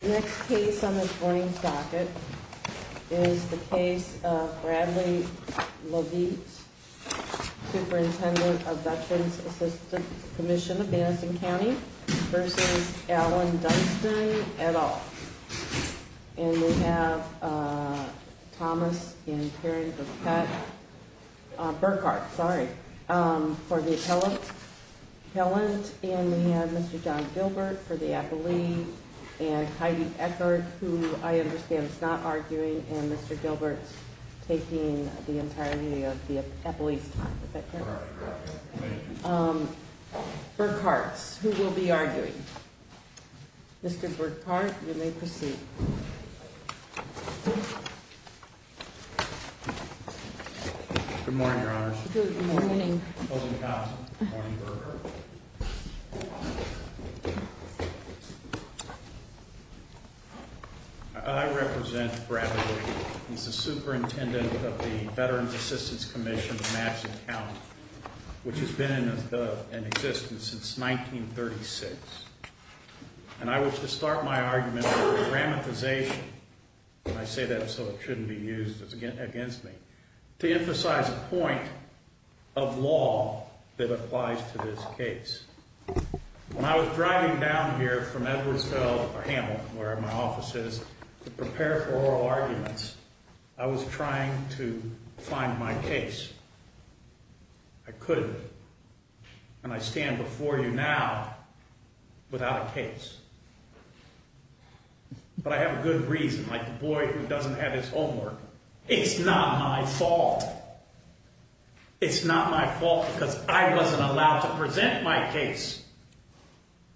Next case on this morning's docket is the case of Bradley Lavite, Superintendent of Veterans Assistance Commission of Madison County v. Allen Dunston, et al. And we have Thomas and Karen Burkart for the appellant. And we have Mr. John Gilbert for the appellee. And Heidi Eckert, who I understand is not arguing. And Mr. Gilbert is taking the entirety of the appellee's time. Burkart, who will be arguing. Mr. Burkart, you may proceed. Good morning, Your Honors. Good morning. Good morning, Burkart. I represent Bradley. He's the superintendent of the Veterans Assistance Commission of Madison County, which has been in existence since 1936. And I wish to start my argument with a grammatization, and I say that so it shouldn't be used against me, to emphasize a point of law that applies to this case. When I was driving down here from Edwardsville or Hamilton, wherever my office is, to prepare for oral arguments, I was trying to find my case. I couldn't. And I stand before you now without a case. But I have a good reason, like the boy who doesn't have his homework. It's not my fault. It's not my fault because I wasn't allowed to present my case.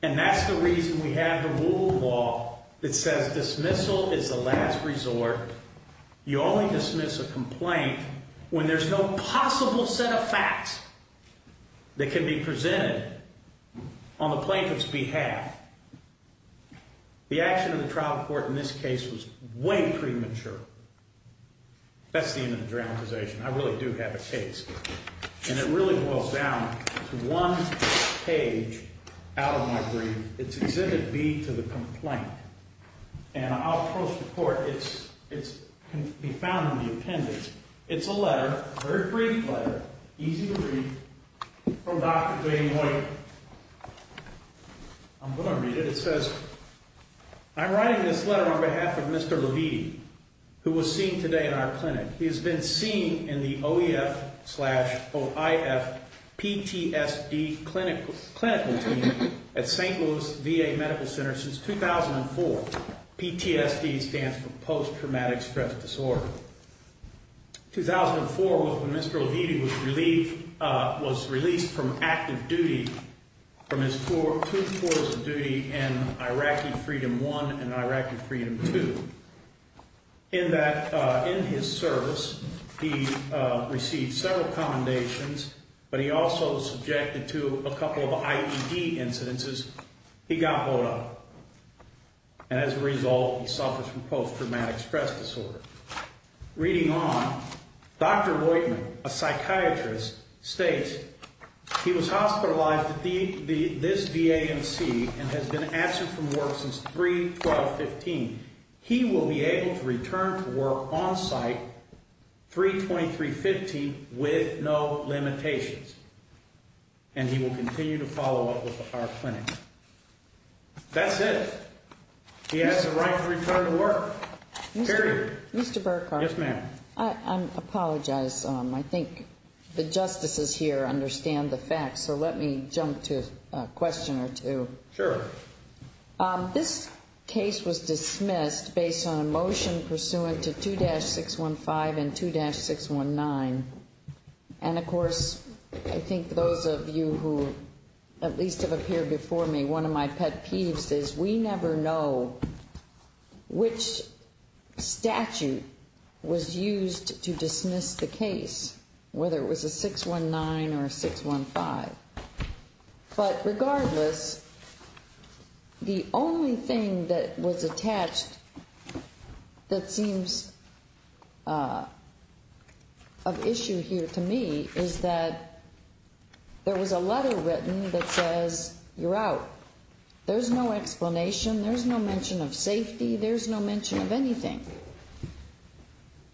And that's the reason we have the rule of law that says dismissal is the last resort. You only dismiss a complaint when there's no possible set of facts that can be presented on the plaintiff's behalf. The action of the trial court in this case was way premature. That's the end of the grammatization. I really do have a case. And it really boils down to one page out of my brief. It's Exhibit B to the complaint. And I'll post a report. It can be found in the appendix. It's a letter, a very brief letter, easy to read, from Dr. Jane White. I'm going to read it. It says, I'm writing this letter on behalf of Mr. Levine, who was seen today in our clinic. He has been seen in the OEF slash OIF PTSD clinical team at St. Louis VA Medical Center since 2004. PTSD stands for post-traumatic stress disorder. 2004 was when Mr. Levine was released from active duty, from his two tours of duty in Iraqi Freedom I and Iraqi Freedom II. In his service, he received several commendations, but he also subjected to a couple of IED incidences. He got blowed up. And as a result, he suffers from post-traumatic stress disorder. Reading on, Dr. Voigtman, a psychiatrist, states he was hospitalized at this VAMC and has been absent from work since 3-12-15. He will be able to return to work on site 3-23-15 with no limitations, and he will continue to follow up with our clinic. That's it. He has the right to return to work. Period. Mr. Burkhart. Yes, ma'am. I apologize. I think the justices here understand the facts, so let me jump to a question or two. Sure. This case was dismissed based on a motion pursuant to 2-615 and 2-619. And, of course, I think those of you who at least have appeared before me, one of my pet peeves is we never know which statute was used to dismiss the case, whether it was a 619 or a 615. But regardless, the only thing that was attached that seems of issue here to me is that there was a letter written that says, you're out. There's no explanation. There's no mention of safety. There's no mention of anything.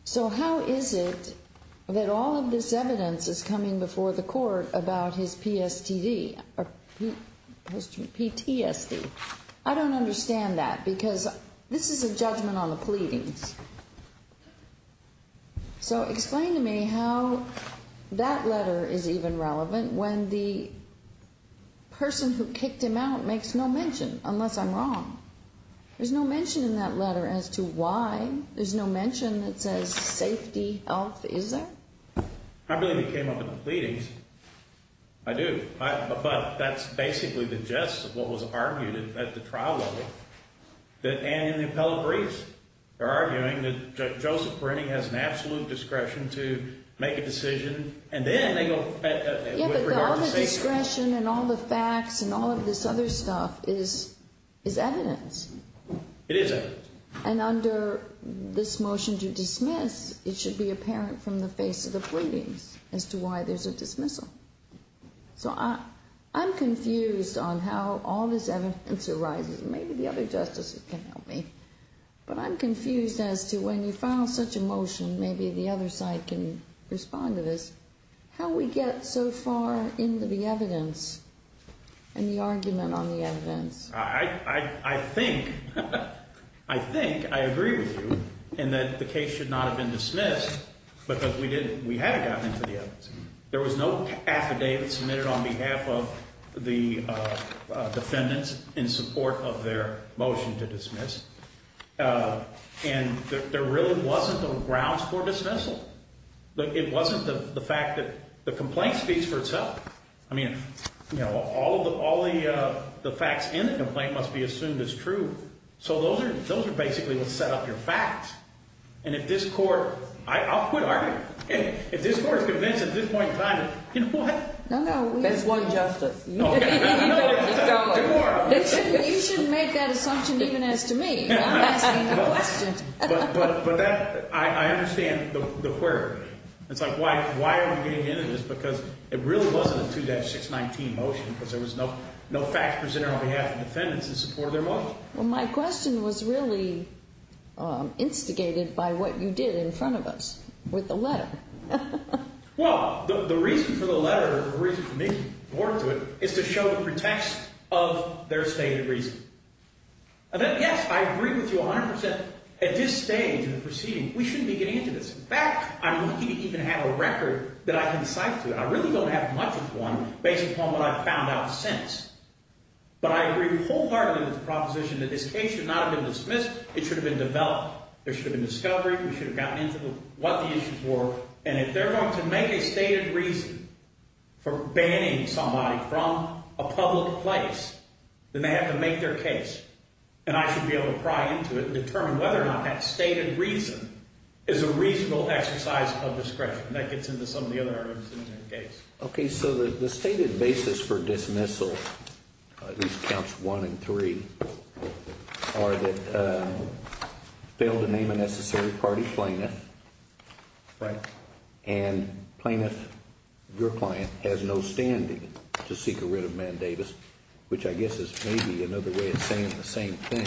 So how is it that all of this evidence is coming before the court about his PTSD? I don't understand that because this is a judgment on the pleadings. So explain to me how that letter is even relevant when the person who kicked him out makes no mention, unless I'm wrong. There's no mention in that letter as to why. There's no mention that says safety, health, is there? I believe it came up in the pleadings. I do. But that's basically the gist of what was argued at the trial level and in the appellate briefs. They're arguing that Joseph Brinning has an absolute discretion to make a decision, and then they go with regard to safety. The discretion and all the facts and all of this other stuff is evidence. It is evidence. And under this motion to dismiss, it should be apparent from the face of the pleadings as to why there's a dismissal. So I'm confused on how all this evidence arises. Maybe the other justices can help me. But I'm confused as to when you file such a motion, maybe the other side can respond to this, how we get so far into the evidence and the argument on the evidence. I think I agree with you in that the case should not have been dismissed because we had gotten into the evidence. There was no affidavit submitted on behalf of the defendants in support of their motion to dismiss. And there really wasn't a grounds for dismissal. It wasn't the fact that the complaint speaks for itself. I mean, all the facts in the complaint must be assumed as true. So those are basically what set up your facts. And if this court, I'll quit arguing. If this court is convinced at this point in time, you know what? No, no. That's one justice. You should make that assumption even as to me. I'm asking the question. But that, I understand the where. It's like why are we getting into this? Because it really wasn't a 2-619 motion because there was no facts presented on behalf of the defendants in support of their motion. Well, my question was really instigated by what you did in front of us with the letter. Well, the reason for the letter or the reason for me to report to it is to show the pretext of their stated reason. Yes, I agree with you 100%. At this stage in the proceeding, we shouldn't be getting into this. In fact, I'm lucky to even have a record that I can cite to. I really don't have much of one based upon what I've found out since. But I agree wholeheartedly with the proposition that this case should not have been dismissed. It should have been developed. There should have been discovery. We should have gotten into what the issues were. And if they're going to make a stated reason for banning somebody from a public place, then they have to make their case. And I should be able to pry into it and determine whether or not that stated reason is a reasonable exercise of discretion. That gets into some of the other arguments in the case. Okay. So the stated basis for dismissal, at least counts one and three, are that failed to name a necessary party plaintiff. Right. And plaintiff, your client, has no standing to seek a writ of mandatus, which I guess is maybe another way of saying the same thing.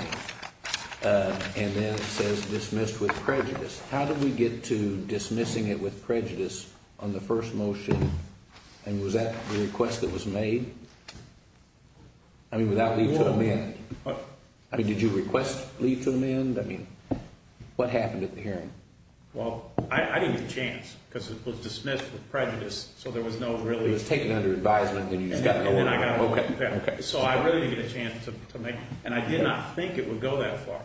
And then it says dismissed with prejudice. How did we get to dismissing it with prejudice on the first motion? And was that the request that was made? I mean, without leave to amend. I mean, did you request leave to amend? I mean, what happened at the hearing? Well, I didn't get a chance because it was dismissed with prejudice, so there was no really – It was taken under advisement when you just got the order. Okay. So I really didn't get a chance to make – and I did not think it would go that far.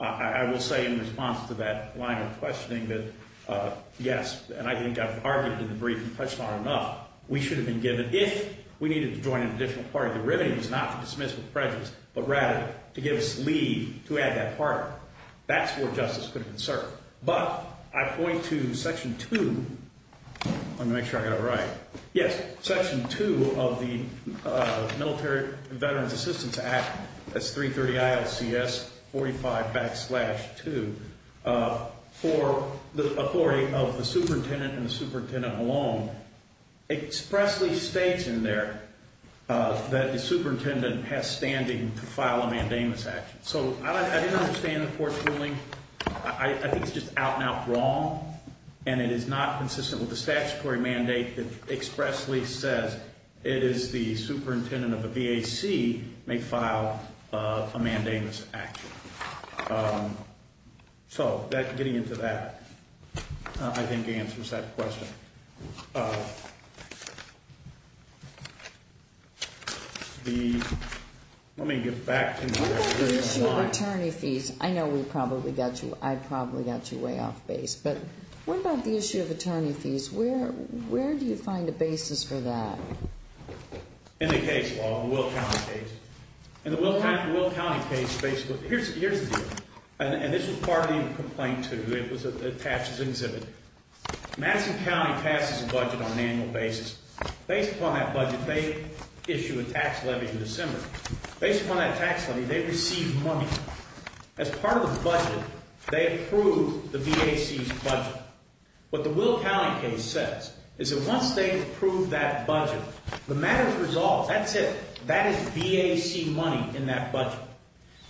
I will say in response to that line of questioning that yes, and I think I've argued in the brief and touched on it enough, we should have been given – if we needed to join an additional party, the remedy was not to dismiss with prejudice, but rather to give us leave to add that party. That's where justice could have been served. But I point to Section 2. Let me make sure I got it right. For the authority of the superintendent and the superintendent alone, expressly states in there that the superintendent has standing to file a mandamus action. So I didn't understand the court's ruling. I think it's just out and out wrong, and it is not consistent with the statutory mandate that expressly says it is the superintendent of the VAC may file a mandamus action. So getting into that, I think answers that question. The – let me get back to my – What about the issue of attorney fees? I know we probably got you – I probably got you way off base, but what about the issue of attorney fees? Where do you find a basis for that? In the case law, the Will County case. In the Will County case, basically – here's the deal. And this was part of the complaint, too. It was attached as an exhibit. Madison County passes a budget on an annual basis. Based upon that budget, they issue a tax levy in December. Based upon that tax levy, they receive money. As part of the budget, they approve the VAC's budget. What the Will County case says is that once they approve that budget, the matter is resolved. That's it. That is VAC money in that budget.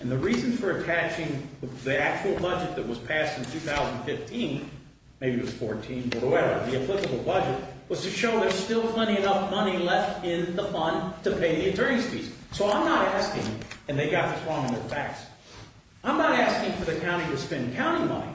And the reason for attaching the actual budget that was passed in 2015 – maybe it was 2014, whatever – the applicable budget was to show there's still plenty enough money left in the fund to pay the attorney's fees. So I'm not asking – and they got this wrong in their facts – I'm not asking for the county to spend county money.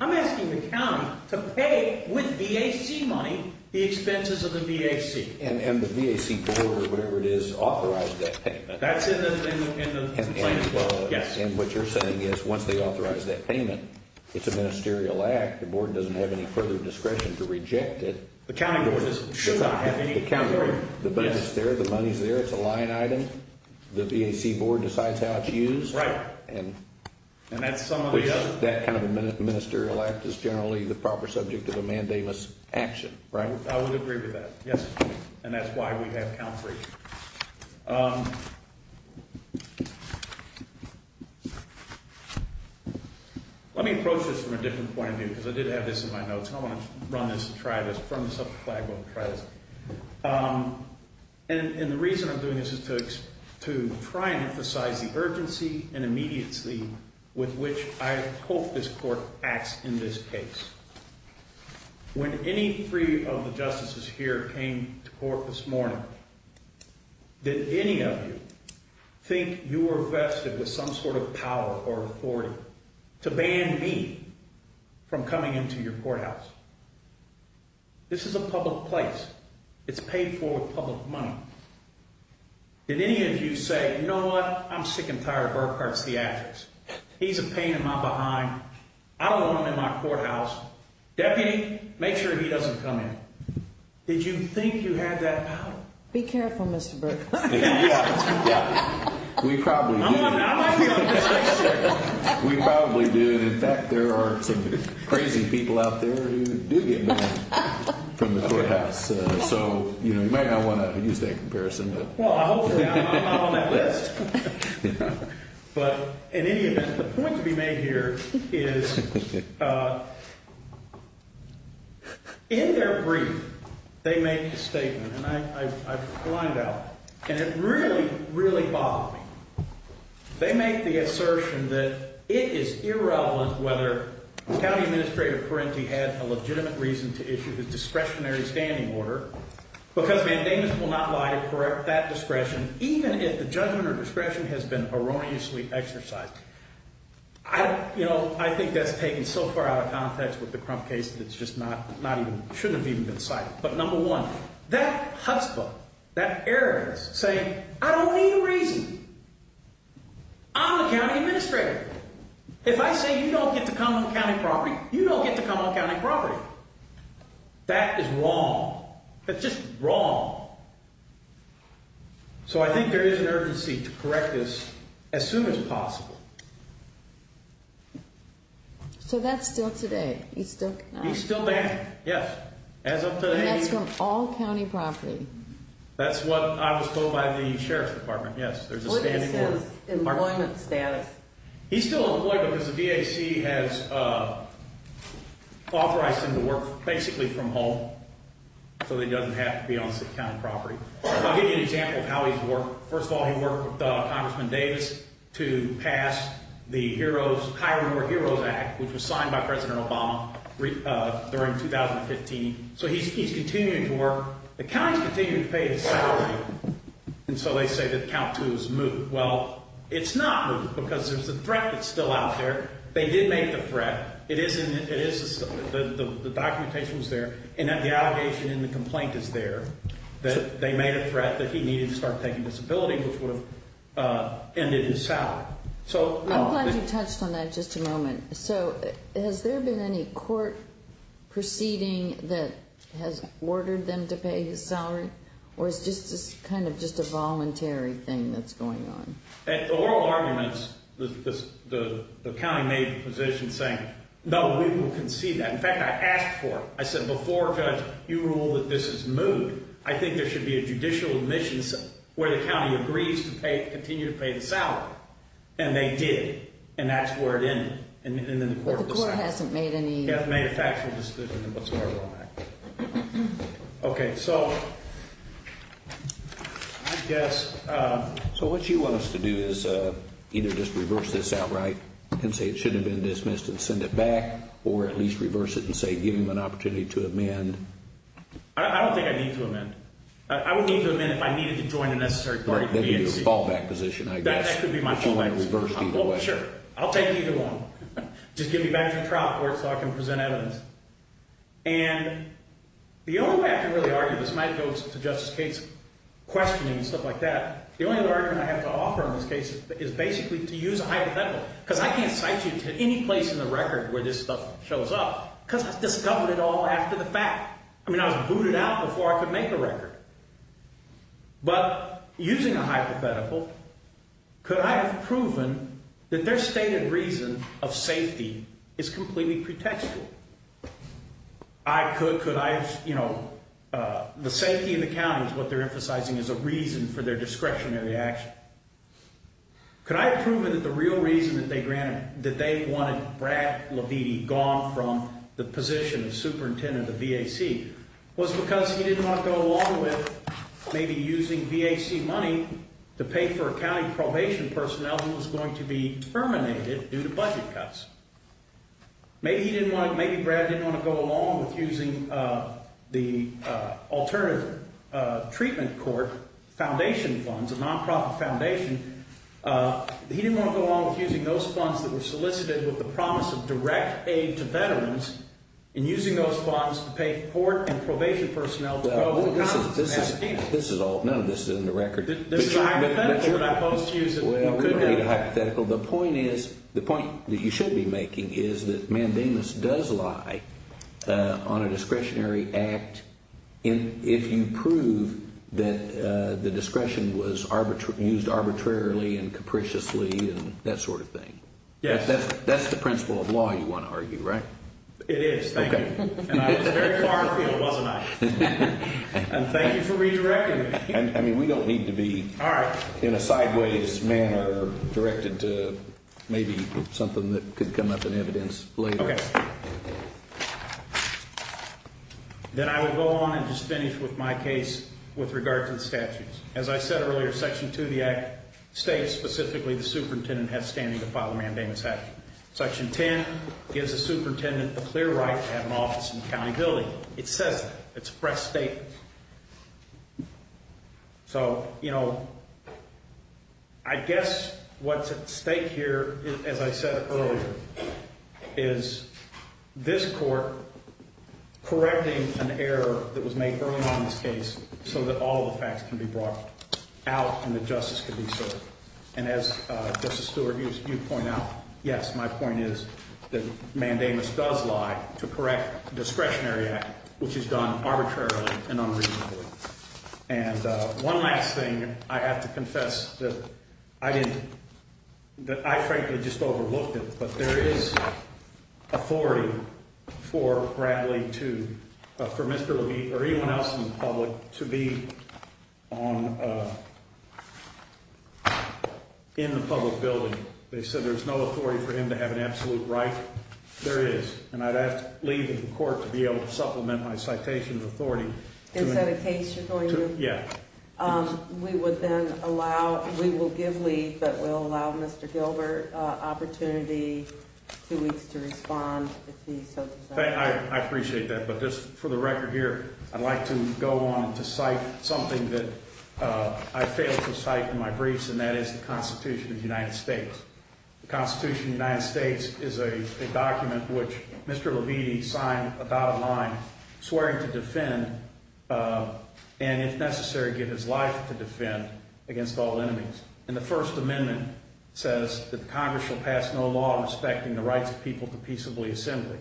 I'm asking the county to pay, with VAC money, the expenses of the VAC. And the VAC board, or whatever it is, authorized that payment. That's in the complaint. And what you're saying is once they authorize that payment, it's a ministerial act. The board doesn't have any further discretion to reject it. The county board should not have any discretion. The money's there. It's a line item. The VAC board decides how it's used. Right. And that's some of the other – That kind of a ministerial act is generally the proper subject of a mandamus action, right? I would agree with that. Yes. And that's why we have count-free. Let me approach this from a different point of view because I did have this in my notes. I want to run this and try this – firm this up a flagpole and try this. And the reason I'm doing this is to try and emphasize the urgency and immediacy with which I hope this court acts in this case. When any three of the justices here came to court this morning, did any of you think you were vested with some sort of power or authority to ban me from coming into your courthouse? This is a public place. It's paid for with public money. Did any of you say, you know what, I'm sick and tired of Burkhart's theatrics. He's a pain in my behind. I don't want him in my courthouse. Deputy, make sure he doesn't come in. Did you think you had that power? Be careful, Mr. Burkhart. We probably do. I might be on the safe side. We probably do. And, in fact, there are some crazy people out there who do get banned from the courthouse. So, you know, you might not want to use that comparison. Well, hopefully I'm not on that list. But in any event, the point to be made here is, in their brief, they make a statement. And I've blinded out. And it really, really bothered me. They make the assertion that it is irrelevant whether County Administrator Perenti had a legitimate reason to issue the discretionary standing order because mandamus will not lie to correct that discretion, even if the judgment or discretion has been erroneously exercised. You know, I think that's taken so far out of context with the Crump case that it shouldn't have even been cited. But, number one, that chutzpah, that arrogance, saying I don't need a reason. I'm the County Administrator. If I say you don't get to come on County property, you don't get to come on County property. That is wrong. That's just wrong. So I think there is an urgency to correct this as soon as possible. So that's still today? He's still banned? He's still banned, yes. And that's from all County property? That's what I was told by the Sheriff's Department, yes. What is his employment status? He's still employed because the DAC has authorized him to work basically from home so that he doesn't have to be on City-County property. I'll give you an example of how he's worked. First of all, he worked with Congressman Davis to pass the Hire More Heroes Act, which was signed by President Obama during 2015. So he's continuing to work. The County's continuing to pay his salary. And so they say that Count 2 is moot. Well, it's not moot because there's a threat that's still out there. They did make the threat. It is, the documentation was there. And the allegation and the complaint is there that they made a threat that he needed to start taking disability, which would have ended his salary. I'm glad you touched on that just a moment. So has there been any court proceeding that has ordered them to pay his salary? Or is this just kind of just a voluntary thing that's going on? At the oral arguments, the County made the position saying, no, we will concede that. In fact, I asked for it. I said before, Judge, you rule that this is moot. I think there should be a judicial admission where the County agrees to continue to pay the salary. And they did. And that's where it ended. But the court hasn't made any. They haven't made a factual decision on what's going on. Okay, so I guess. So what you want us to do is either just reverse this outright and say it should have been dismissed and send it back, or at least reverse it and say give him an opportunity to amend. I don't think I need to amend. I would need to amend if I needed to join a necessary party. That could be my fallback position. Sure, I'll take either one. Just get me back to the trial court so I can present evidence. And the only way I can really argue this might go to Justice Cates' questioning and stuff like that. The only argument I have to offer in this case is basically to use a hypothetical because I can't cite you to any place in the record where this stuff shows up because I discovered it all after the fact. I mean, I was booted out before I could make a record. But using a hypothetical, could I have proven that their stated reason of safety is completely pretextual? Could I have, you know, the safety of the county is what they're emphasizing as a reason for their discretionary action. Could I have proven that the real reason that they wanted Brad Leviti gone from the position of superintendent of the VAC was because he didn't want to go along with maybe using VAC money to pay for a county probation personnel who was going to be terminated due to budget cuts. Maybe he didn't want to, maybe Brad didn't want to go along with using the alternative treatment court foundation funds, a non-profit foundation. He didn't want to go along with using those funds that were solicited with the promise of direct aid to veterans and using those funds to pay for court and probation personnel. This is all, none of this is in the record. This is a hypothetical that I posed to you. The point is, the point that you should be making is that mandamus does lie on a discretionary act if you prove that the discretion was used arbitrarily and capriciously and that sort of thing. Yes. That's the principle of law you want to argue, right? It is. Thank you. And I was very far afield, wasn't I? And thank you for redirecting me. I mean, we don't need to be in a sideways manner directed to maybe something that could come up in evidence later. Okay. Then I will go on and just finish with my case with regard to the statutes. As I said earlier, Section 2 of the Act states specifically the superintendent has standing to file a mandamus action. Section 10 gives the superintendent the clear right to have an office and accountability. It says that. It's a press statement. So, you know, I guess what's at stake here, as I said earlier, is this court correcting an error that was made early on in this case so that all the facts can be brought out and that justice can be served. And as Justice Stewart, you point out, yes, my point is that mandamus does lie to correct a discretionary act, which is done arbitrarily and unreasonably. And one last thing, I have to confess that I didn't, that I frankly just overlooked it, but there is authority for Bradley to, for Mr. Levine or anyone else in the public to be on, in the public building. They said there's no authority for him to have an absolute right. There is. And I'd ask leave of the court to be able to supplement my citation of authority. Is that a case you're going to? Yeah. We would then allow, we will give leave, but we'll allow Mr. Gilbert opportunity two weeks to respond if he so desires. I appreciate that. But just for the record here, I'd like to go on to cite something that I failed to cite in my briefs, and that is the Constitution of the United States. The Constitution of the United States is a document which Mr. Levine signed a dotted line swearing to defend and, if necessary, give his life to defend against all enemies. And the First Amendment says that Congress shall pass no law respecting the rights of people to peaceably assembly.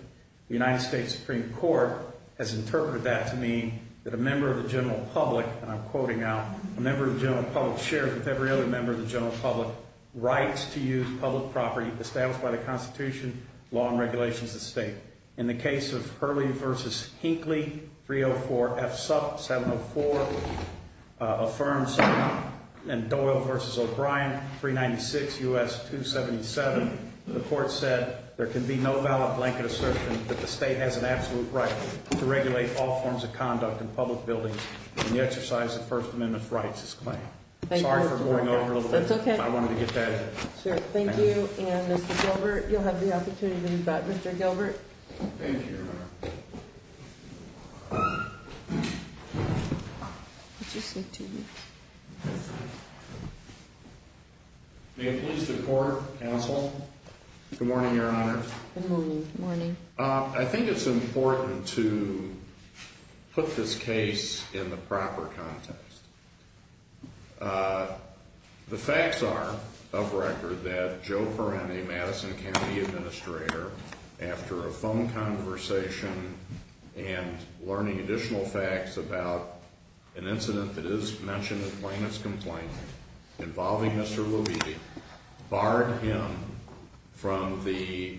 The United States Supreme Court has interpreted that to mean that a member of the general public, and I'm quoting now, a member of the general public shares with every other member of the general public rights to use public property established by the Constitution, law, and regulations of the state. In the case of Hurley v. Hinckley, 304 F. Supp. 704 affirms, and Doyle v. O'Brien, 396 U.S. 277, the court said there can be no valid blanket assertion that the state has an absolute right to regulate all forms of conduct in public buildings in the exercise of First Amendment rights as claimed. Thank you. Sorry for going over a little bit. That's okay. I wanted to get that in. Sure. Thank you. And, Mr. Gilbert, you'll have the opportunity to do that. Mr. Gilbert? Thank you, Your Honor. What did you say to me? May it please the court, counsel? Good morning, Your Honor. Good morning. Good morning. I think it's important to put this case in the proper context. The facts are, of record, that Joe Perenne, Madison County Administrator, after a phone conversation and learning additional facts about an incident that is mentioned in the plaintiff's complaint involving Mr. Louisi, barred him from the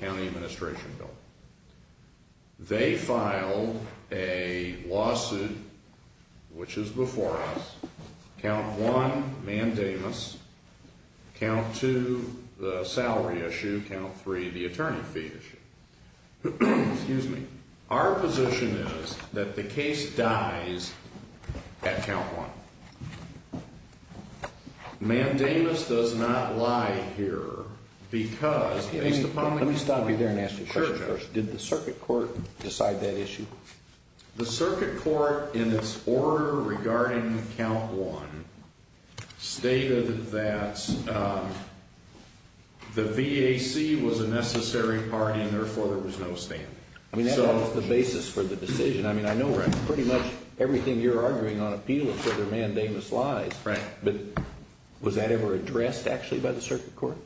county administration bill. They filed a lawsuit, which is before us. Count one, mandamus. Count two, the salary issue. Count three, the attorney fee issue. Excuse me. Our position is that the case dies at count one. Mandamus does not lie here because, based upon the... Let me stop you there and ask you a question first. Sure, Joe. Did the circuit court decide that issue? The circuit court, in its order regarding count one, stated that the VAC was a necessary part and, therefore, there was no standing. I mean, that was the basis for the decision. I mean, I know pretty much everything you're arguing on appeal is whether mandamus lies. Right. But was that ever addressed, actually, by the circuit court?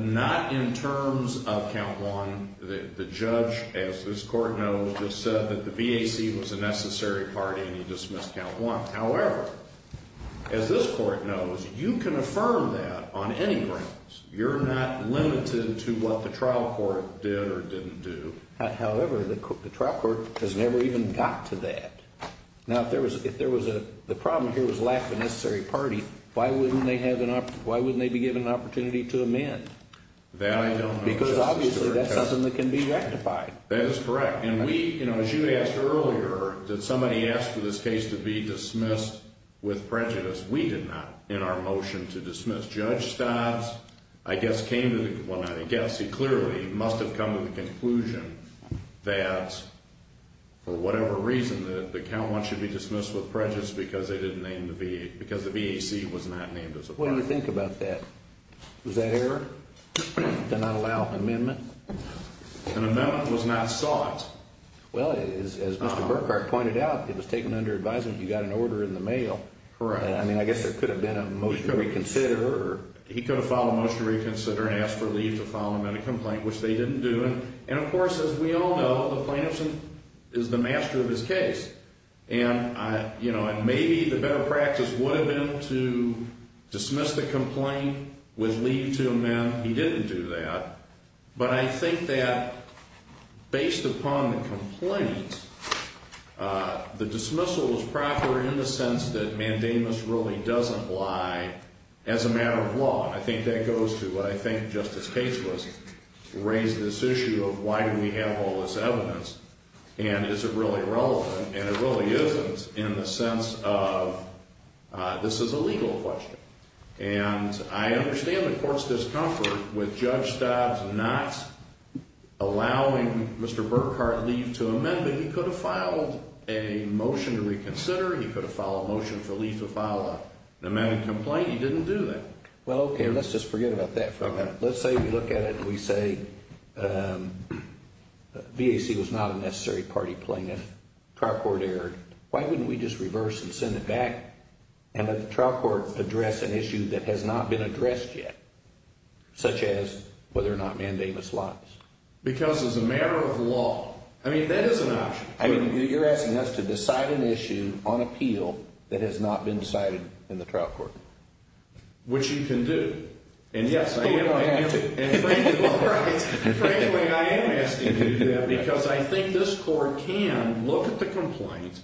Not in terms of count one. The judge, as this court knows, just said that the VAC was a necessary part and he dismissed count one. However, as this court knows, you can affirm that on any grounds. You're not limited to what the trial court did or didn't do. However, the trial court has never even got to that. Now, if the problem here was lack of a necessary party, why wouldn't they be given an opportunity to amend? That I don't know, Justice Stewart. Because, obviously, that's something that can be rectified. That is correct. And we, as you asked earlier, did somebody ask for this case to be dismissed with prejudice? We did not, in our motion to dismiss. I guess came to the conclusion, I guess he clearly must have come to the conclusion that, for whatever reason, that the count one should be dismissed with prejudice because the VAC was not named as a part. What do you think about that? Was that error to not allow amendment? An amendment was not sought. Well, as Mr. Burkhart pointed out, it was taken under advisement. You got an order in the mail. Correct. I mean, I guess there could have been a motion to reconsider. He could have filed a motion to reconsider and asked for leave to file an amendment complaint, which they didn't do. And, of course, as we all know, the plaintiff is the master of his case. And maybe the better practice would have been to dismiss the complaint with leave to amend. He didn't do that. But I think that, based upon the complaint, the dismissal is proper in the sense that mandamus really doesn't lie as a matter of law. And I think that goes to what I think Justice Cates was raising this issue of why do we have all this evidence, and is it really relevant, and it really isn't in the sense of this is a legal question. And I understand the Court's discomfort with Judge Stobbs not allowing Mr. Burkhart leave to amend, but he could have filed a motion to reconsider. He could have filed a motion for leave to file an amendment complaint. He didn't do that. Well, okay, let's just forget about that for a minute. Let's say we look at it and we say VAC was not a necessary party plaintiff, trial court erred. Why wouldn't we just reverse and send it back and let the trial court address an issue that has not been addressed yet, such as whether or not mandamus lies? Because as a matter of law, I mean, that is an option. I mean, you're asking us to decide an issue on appeal that has not been decided in the trial court. Which you can do. And yes, I am asking you to do that. Because I think this Court can look at the complaint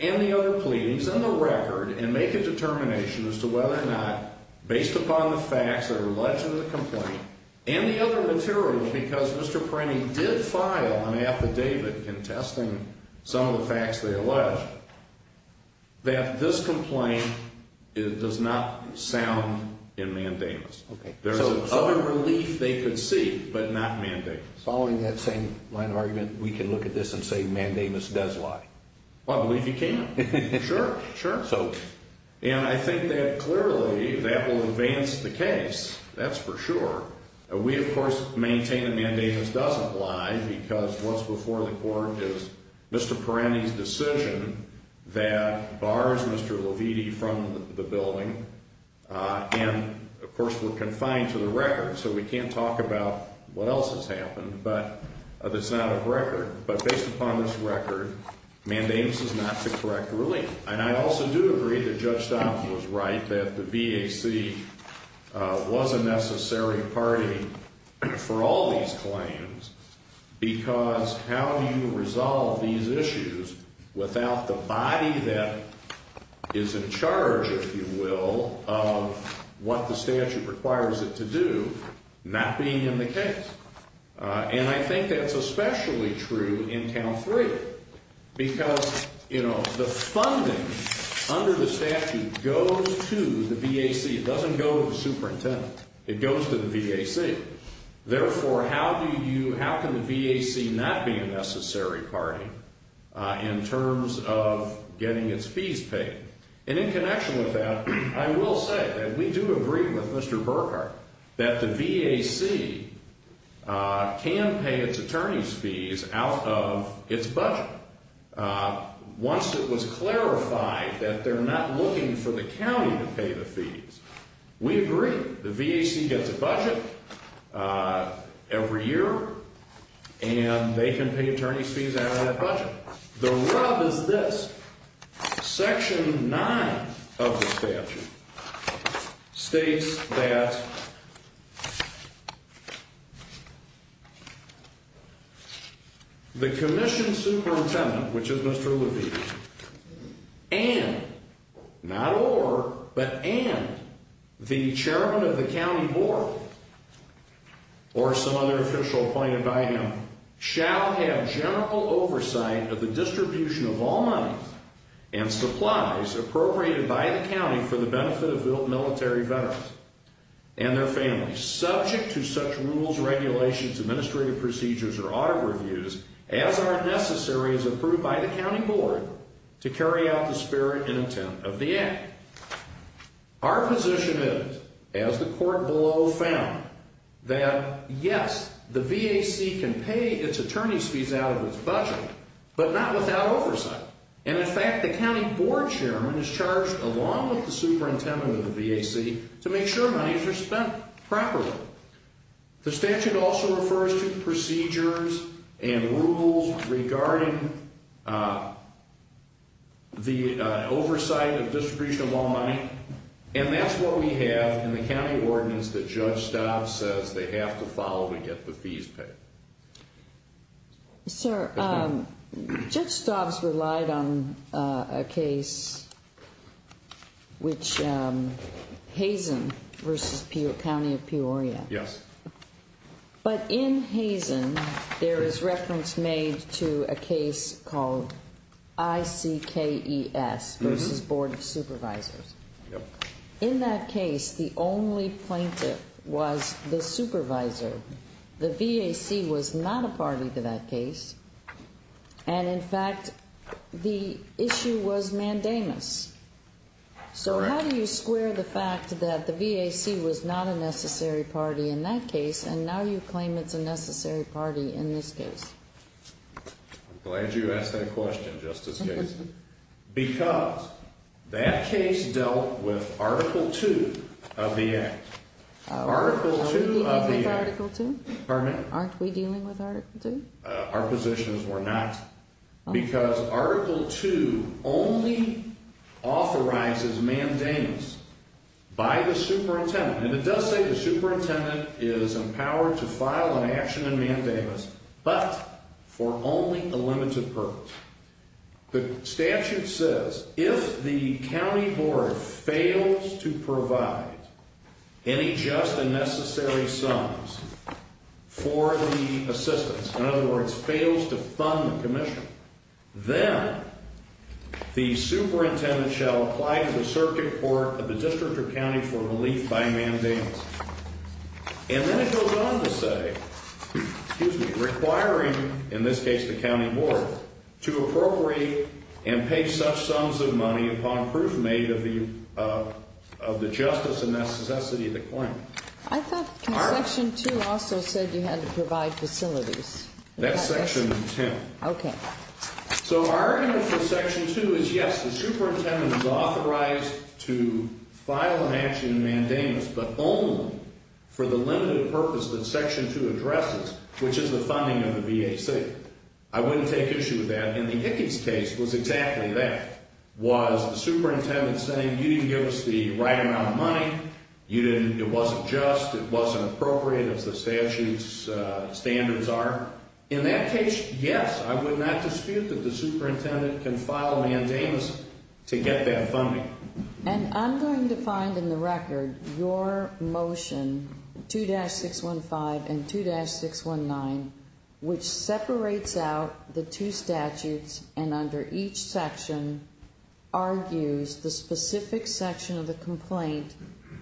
and the other pleadings and the record and make a determination as to whether or not, based upon the facts that are alleged in the complaint and the other materials, because Mr. Prenti did file an affidavit contesting some of the facts they allege, that this complaint does not sound in mandamus. There's other relief they could seek, but not mandamus. Following that same line of argument, we can look at this and say mandamus does lie? I believe you can. Sure, sure. And I think that clearly that will advance the case. That's for sure. We, of course, maintain that mandamus doesn't lie because what's before the court is Mr. Prenti's decision that bars Mr. Leviti from the building. And, of course, we're confined to the record, so we can't talk about what else has happened that's not of record. But based upon this record, mandamus is not the correct relief. And I also do agree that Judge Donovan was right, that the VAC was a necessary party for all these claims. Because how do you resolve these issues without the body that is in charge, if you will, of what the statute requires it to do not being in the case? And I think that's especially true in count three, because, you know, the funding under the statute goes to the VAC. It doesn't go to the superintendent. It goes to the VAC. Therefore, how can the VAC not be a necessary party in terms of getting its fees paid? And in connection with that, I will say that we do agree with Mr. Burkhart that the VAC can pay its attorney's fees out of its budget. Once it was clarified that they're not looking for the county to pay the fees, we agree. The VAC gets a budget every year, and they can pay attorney's fees out of that budget. The rub is this. Section nine of the statute states that the commission superintendent, which is Mr. Levee, and not or, but and the chairman of the county board, or some other official appointed by him, shall have general oversight of the distribution of all money and supplies appropriated by the county for the benefit of military veterans and their families, subject to such rules, regulations, administrative procedures, or audit reviews as are necessary as approved by the county board to carry out the spirit and intent of the act. Our position is, as the court below found, that yes, the VAC can pay its attorney's fees out of its budget, but not without oversight. And in fact, the county board chairman is charged along with the superintendent of the VAC to make sure monies are spent properly. The statute also refers to procedures and rules regarding the oversight of distribution of all money, and that's what we have in the county ordinance that Judge Staub says they have to follow to get the fees paid. Sir, Judge Staub's relied on a case which, Hazen versus County of Peoria. Yes. But in Hazen, there is reference made to a case called ICKES versus Board of Supervisors. Yep. In that case, the only plaintiff was the supervisor. The VAC was not a party to that case, and in fact, the issue was mandamus. Correct. So how do you square the fact that the VAC was not a necessary party in that case, and now you claim it's a necessary party in this case? I'm glad you asked that question, Justice Casey. Because that case dealt with Article 2 of the Act. Are we dealing with Article 2? Pardon me? Aren't we dealing with Article 2? Our positions were not. Because Article 2 only authorizes mandamus by the superintendent, and it does say the superintendent is empowered to file an action in mandamus, but for only a limited purpose. The statute says, if the county board fails to provide any just and necessary sums for the assistance, in other words, fails to fund the commission, then the superintendent shall apply to the circuit court of the district or county for relief by mandamus. And then it goes on to say, excuse me, requiring, in this case, the county board to appropriate and pay such sums of money upon proof made of the justice and necessity of the claim. I thought Section 2 also said you had to provide facilities. That's Section 10. Okay. So our argument for Section 2 is, yes, the superintendent is authorized to file an action in mandamus, but only for the limited purpose that Section 2 addresses, which is the funding of the VAC. I wouldn't take issue with that. And the Hickies case was exactly that, was the superintendent saying, you didn't give us the right amount of money, it wasn't just, it wasn't appropriate, as the statute's standards are. In that case, yes, I would not dispute that the superintendent can file a mandamus to get that funding. And I'm going to find in the record your motion, 2-615 and 2-619, which separates out the two statutes and under each section argues the specific section of the complaint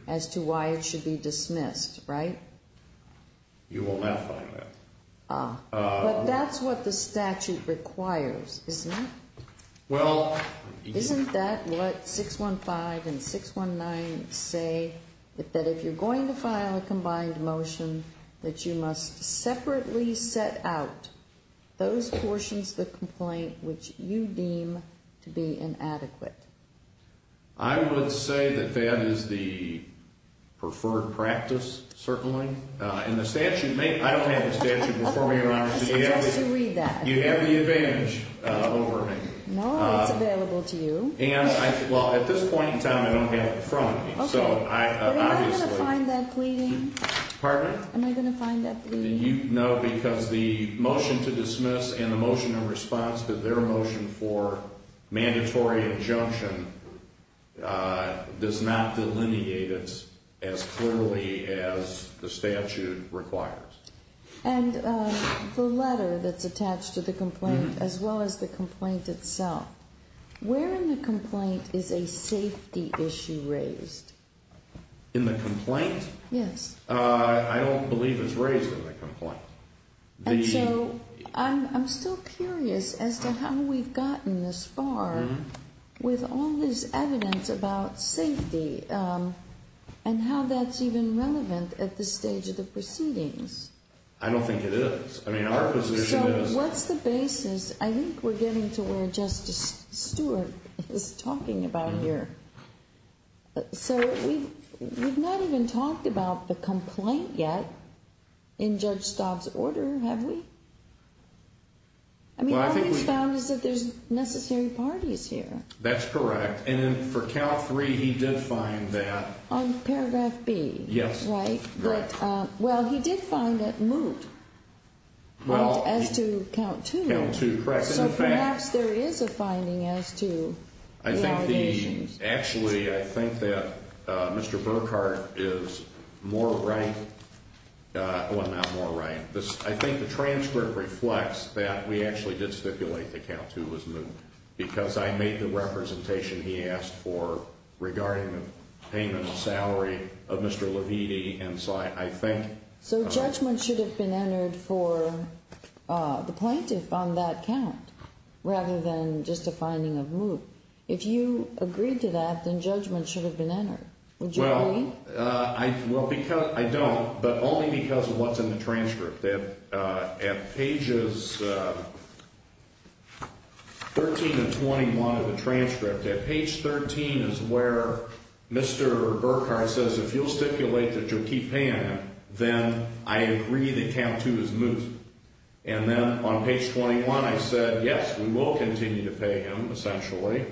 as to why it should be dismissed, right? You will not find that. But that's what the statute requires, isn't it? Well... Isn't that what 615 and 619 say, that if you're going to file a combined motion, that you must separately set out those portions of the complaint which you deem to be inadequate? I would say that that is the preferred practice, certainly. And the statute, I don't have the statute before me, Your Honor. I suggest you read that. You have the advantage over me. No, it's available to you. And, well, at this point in time, I don't have it in front of me. Okay. So, obviously... Am I going to find that pleading? Pardon? Am I going to find that pleading? No, because the motion to dismiss and the motion in response to their motion for mandatory injunction does not delineate it as clearly as the statute requires. And the letter that's attached to the complaint, as well as the complaint itself, where in the complaint is a safety issue raised? In the complaint? Yes. I don't believe it's raised in the complaint. And so I'm still curious as to how we've gotten this far with all this evidence about safety and how that's even relevant at this stage of the proceedings. I don't think it is. I mean, our position is... So what's the basis? I think we're getting to where Justice Stewart is talking about here. So we've not even talked about the complaint yet in Judge Staub's order, have we? I mean, all we've found is that there's necessary parties here. That's correct. And for count three, he did find that... On paragraph B. Yes. Right? Correct. Well, he did find that moot as to count two. Count two. Correct. So perhaps there is a finding as to the allegations. Actually, I think that Mr. Burkhart is more right. Well, not more right. I think the transcript reflects that we actually did stipulate the count two was moot because I made the representation he asked for regarding the payment of salary of Mr. Leviti. So judgment should have been entered for the plaintiff on that count rather than just a finding of moot. If you agreed to that, then judgment should have been entered. Would you agree? Well, I don't, but only because of what's in the transcript. At pages 13 and 21 of the transcript, at page 13 is where Mr. Burkhart says, if you'll stipulate that you'll keep paying him, then I agree that count two is moot. And then on page 21, I said, yes, we will continue to pay him, essentially.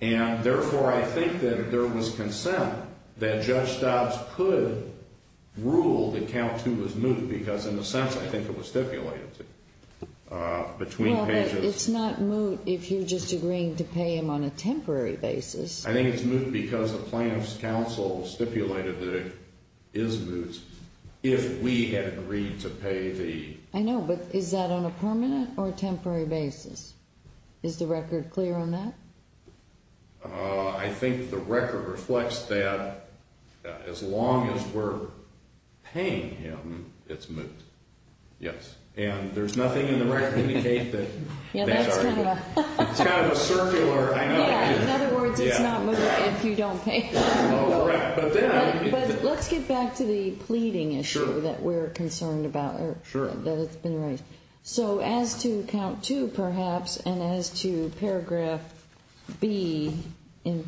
And, therefore, I think that there was consent that Judge Dobbs could rule that count two was moot because, in a sense, I think it was stipulated between pages. Well, but it's not moot if you're just agreeing to pay him on a temporary basis. I think it's moot because the plaintiff's counsel stipulated that it is moot if we had agreed to pay the — I know, but is that on a permanent or temporary basis? Is the record clear on that? I think the record reflects that as long as we're paying him, it's moot. Yes. And there's nothing in the record to indicate that that's our view. Yeah, that's kind of a — It's kind of a circular — Yeah, in other words, it's not moot if you don't pay him. Oh, right. But then I — But let's get back to the pleading issue that we're concerned about. Sure. That has been raised. Okay. So as to count two, perhaps, and as to paragraph B in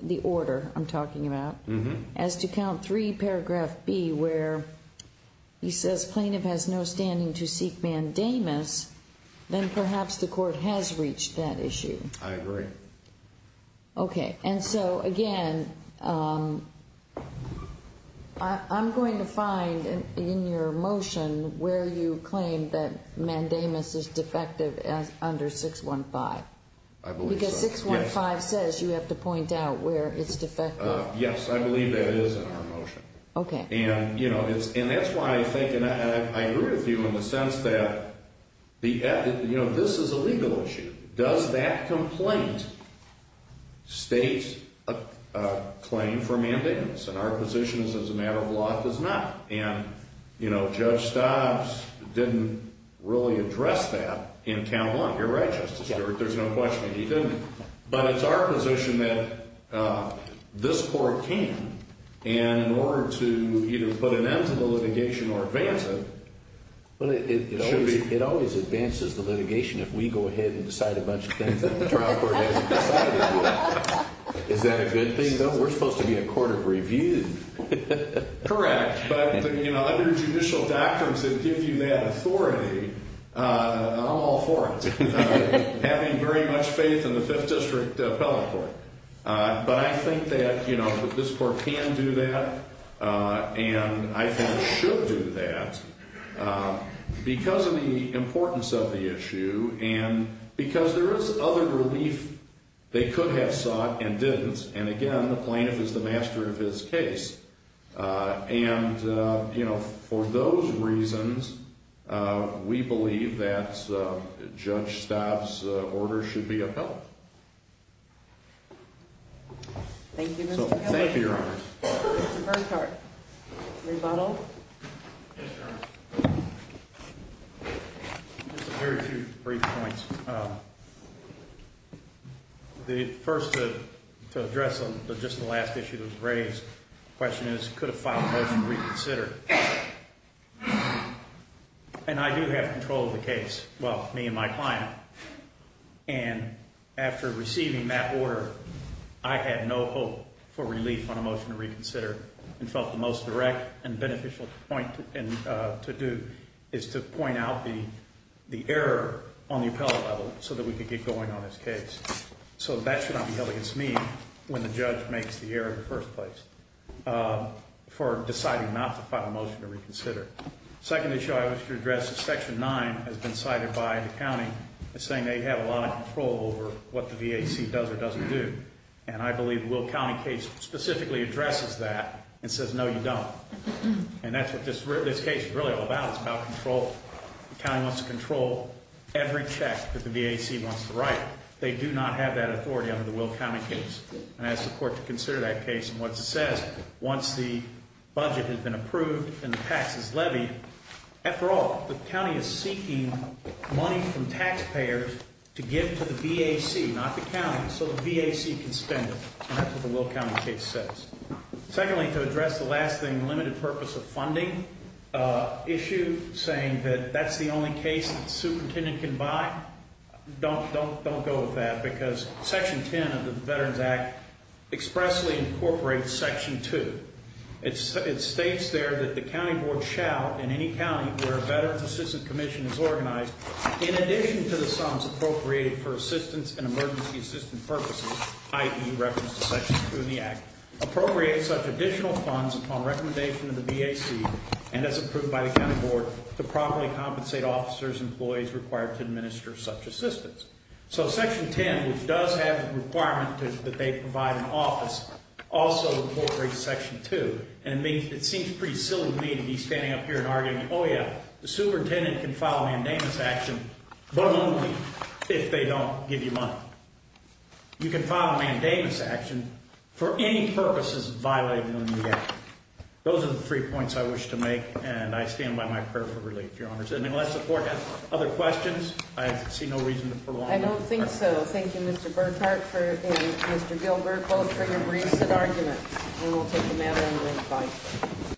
the order I'm talking about, as to count three, paragraph B, where he says plaintiff has no standing to seek mandamus, then perhaps the court has reached that issue. I agree. Okay. And so, again, I'm going to find in your motion where you claim that mandamus is defective under 615. I believe so, yes. Because 615 says you have to point out where it's defective. Yes, I believe that is in our motion. Okay. And that's why I think — and I agree with you in the sense that this is a legal issue. Does that complaint state a claim for mandamus? And our position is as a matter of law, it does not. And Judge Stobbs didn't really address that in count one. You're right, Justice Stewart. There's no question that he didn't. But it's our position that this court can. And in order to either put an end to the litigation or advance it, it should be — But it always advances the litigation if we go ahead and decide a bunch of things that the trial court hasn't decided yet. Is that a good thing, though? We're supposed to be a court of review. Correct. But under judicial doctrines that give you that authority, I'm all for it. Having very much faith in the Fifth District Appellate Court. But I think that this court can do that and I think should do that because of the importance of the issue and because there is other relief they could have sought and didn't. And, again, the plaintiff is the master of his case. And, you know, for those reasons, we believe that Judge Stobbs' order should be upheld. Thank you, Mr. Kelly. Thank you, Your Honor. Mr. Burkhart. Rebuttal? Yes, Your Honor. Just a very few brief points. First, to address just the last issue that was raised. The question is, could have filed a motion to reconsider? And I do have control of the case. Well, me and my client. And after receiving that order, I had no hope for relief on a motion to reconsider. And felt the most direct and beneficial point to do is to point out the error on the appellate level so that we could get going on this case. So that should not be held against me when the judge makes the error in the first place for deciding not to file a motion to reconsider. Second issue I wish to address is Section 9 has been cited by the county as saying they have a lot of control over what the VAC does or doesn't do. And I believe Will County case specifically addresses that and says, no, you don't. And that's what this case is really all about. It's about control. The county wants to control every check that the VAC wants to write. They do not have that authority under the Will County case. And I ask the court to consider that case. And what it says, once the budget has been approved and the tax is levied. After all, the county is seeking money from taxpayers to give to the VAC, not the county. So the VAC can spend it. And that's what the Will County case says. Secondly, to address the last thing, the limited purpose of funding issue, saying that that's the only case the superintendent can buy. Don't go with that because Section 10 of the Veterans Act expressly incorporates Section 2. It states there that the county board shall, in any county where a Veterans Assistance Commission is organized, in addition to the sums appropriated for assistance and emergency assistance purposes, i.e., reference to Section 2 in the Act, appropriate such additional funds upon recommendation of the VAC and as approved by the county board to properly compensate officers and employees required to administer such assistance. So Section 10, which does have the requirement that they provide an office, also incorporates Section 2. And it seems pretty silly to me to be standing up here and arguing, oh yeah, the superintendent can file a mandamus action, but only if they don't give you money. You can file a mandamus action for any purposes violating the VAC. Those are the three points I wish to make, and I stand by my prayer for relief, Your Honors. Other questions? I see no reason to prolong. I don't think so. Thank you, Mr. Burkhart and Mr. Gilbert both for your recent arguments. And we'll take the matter under advice.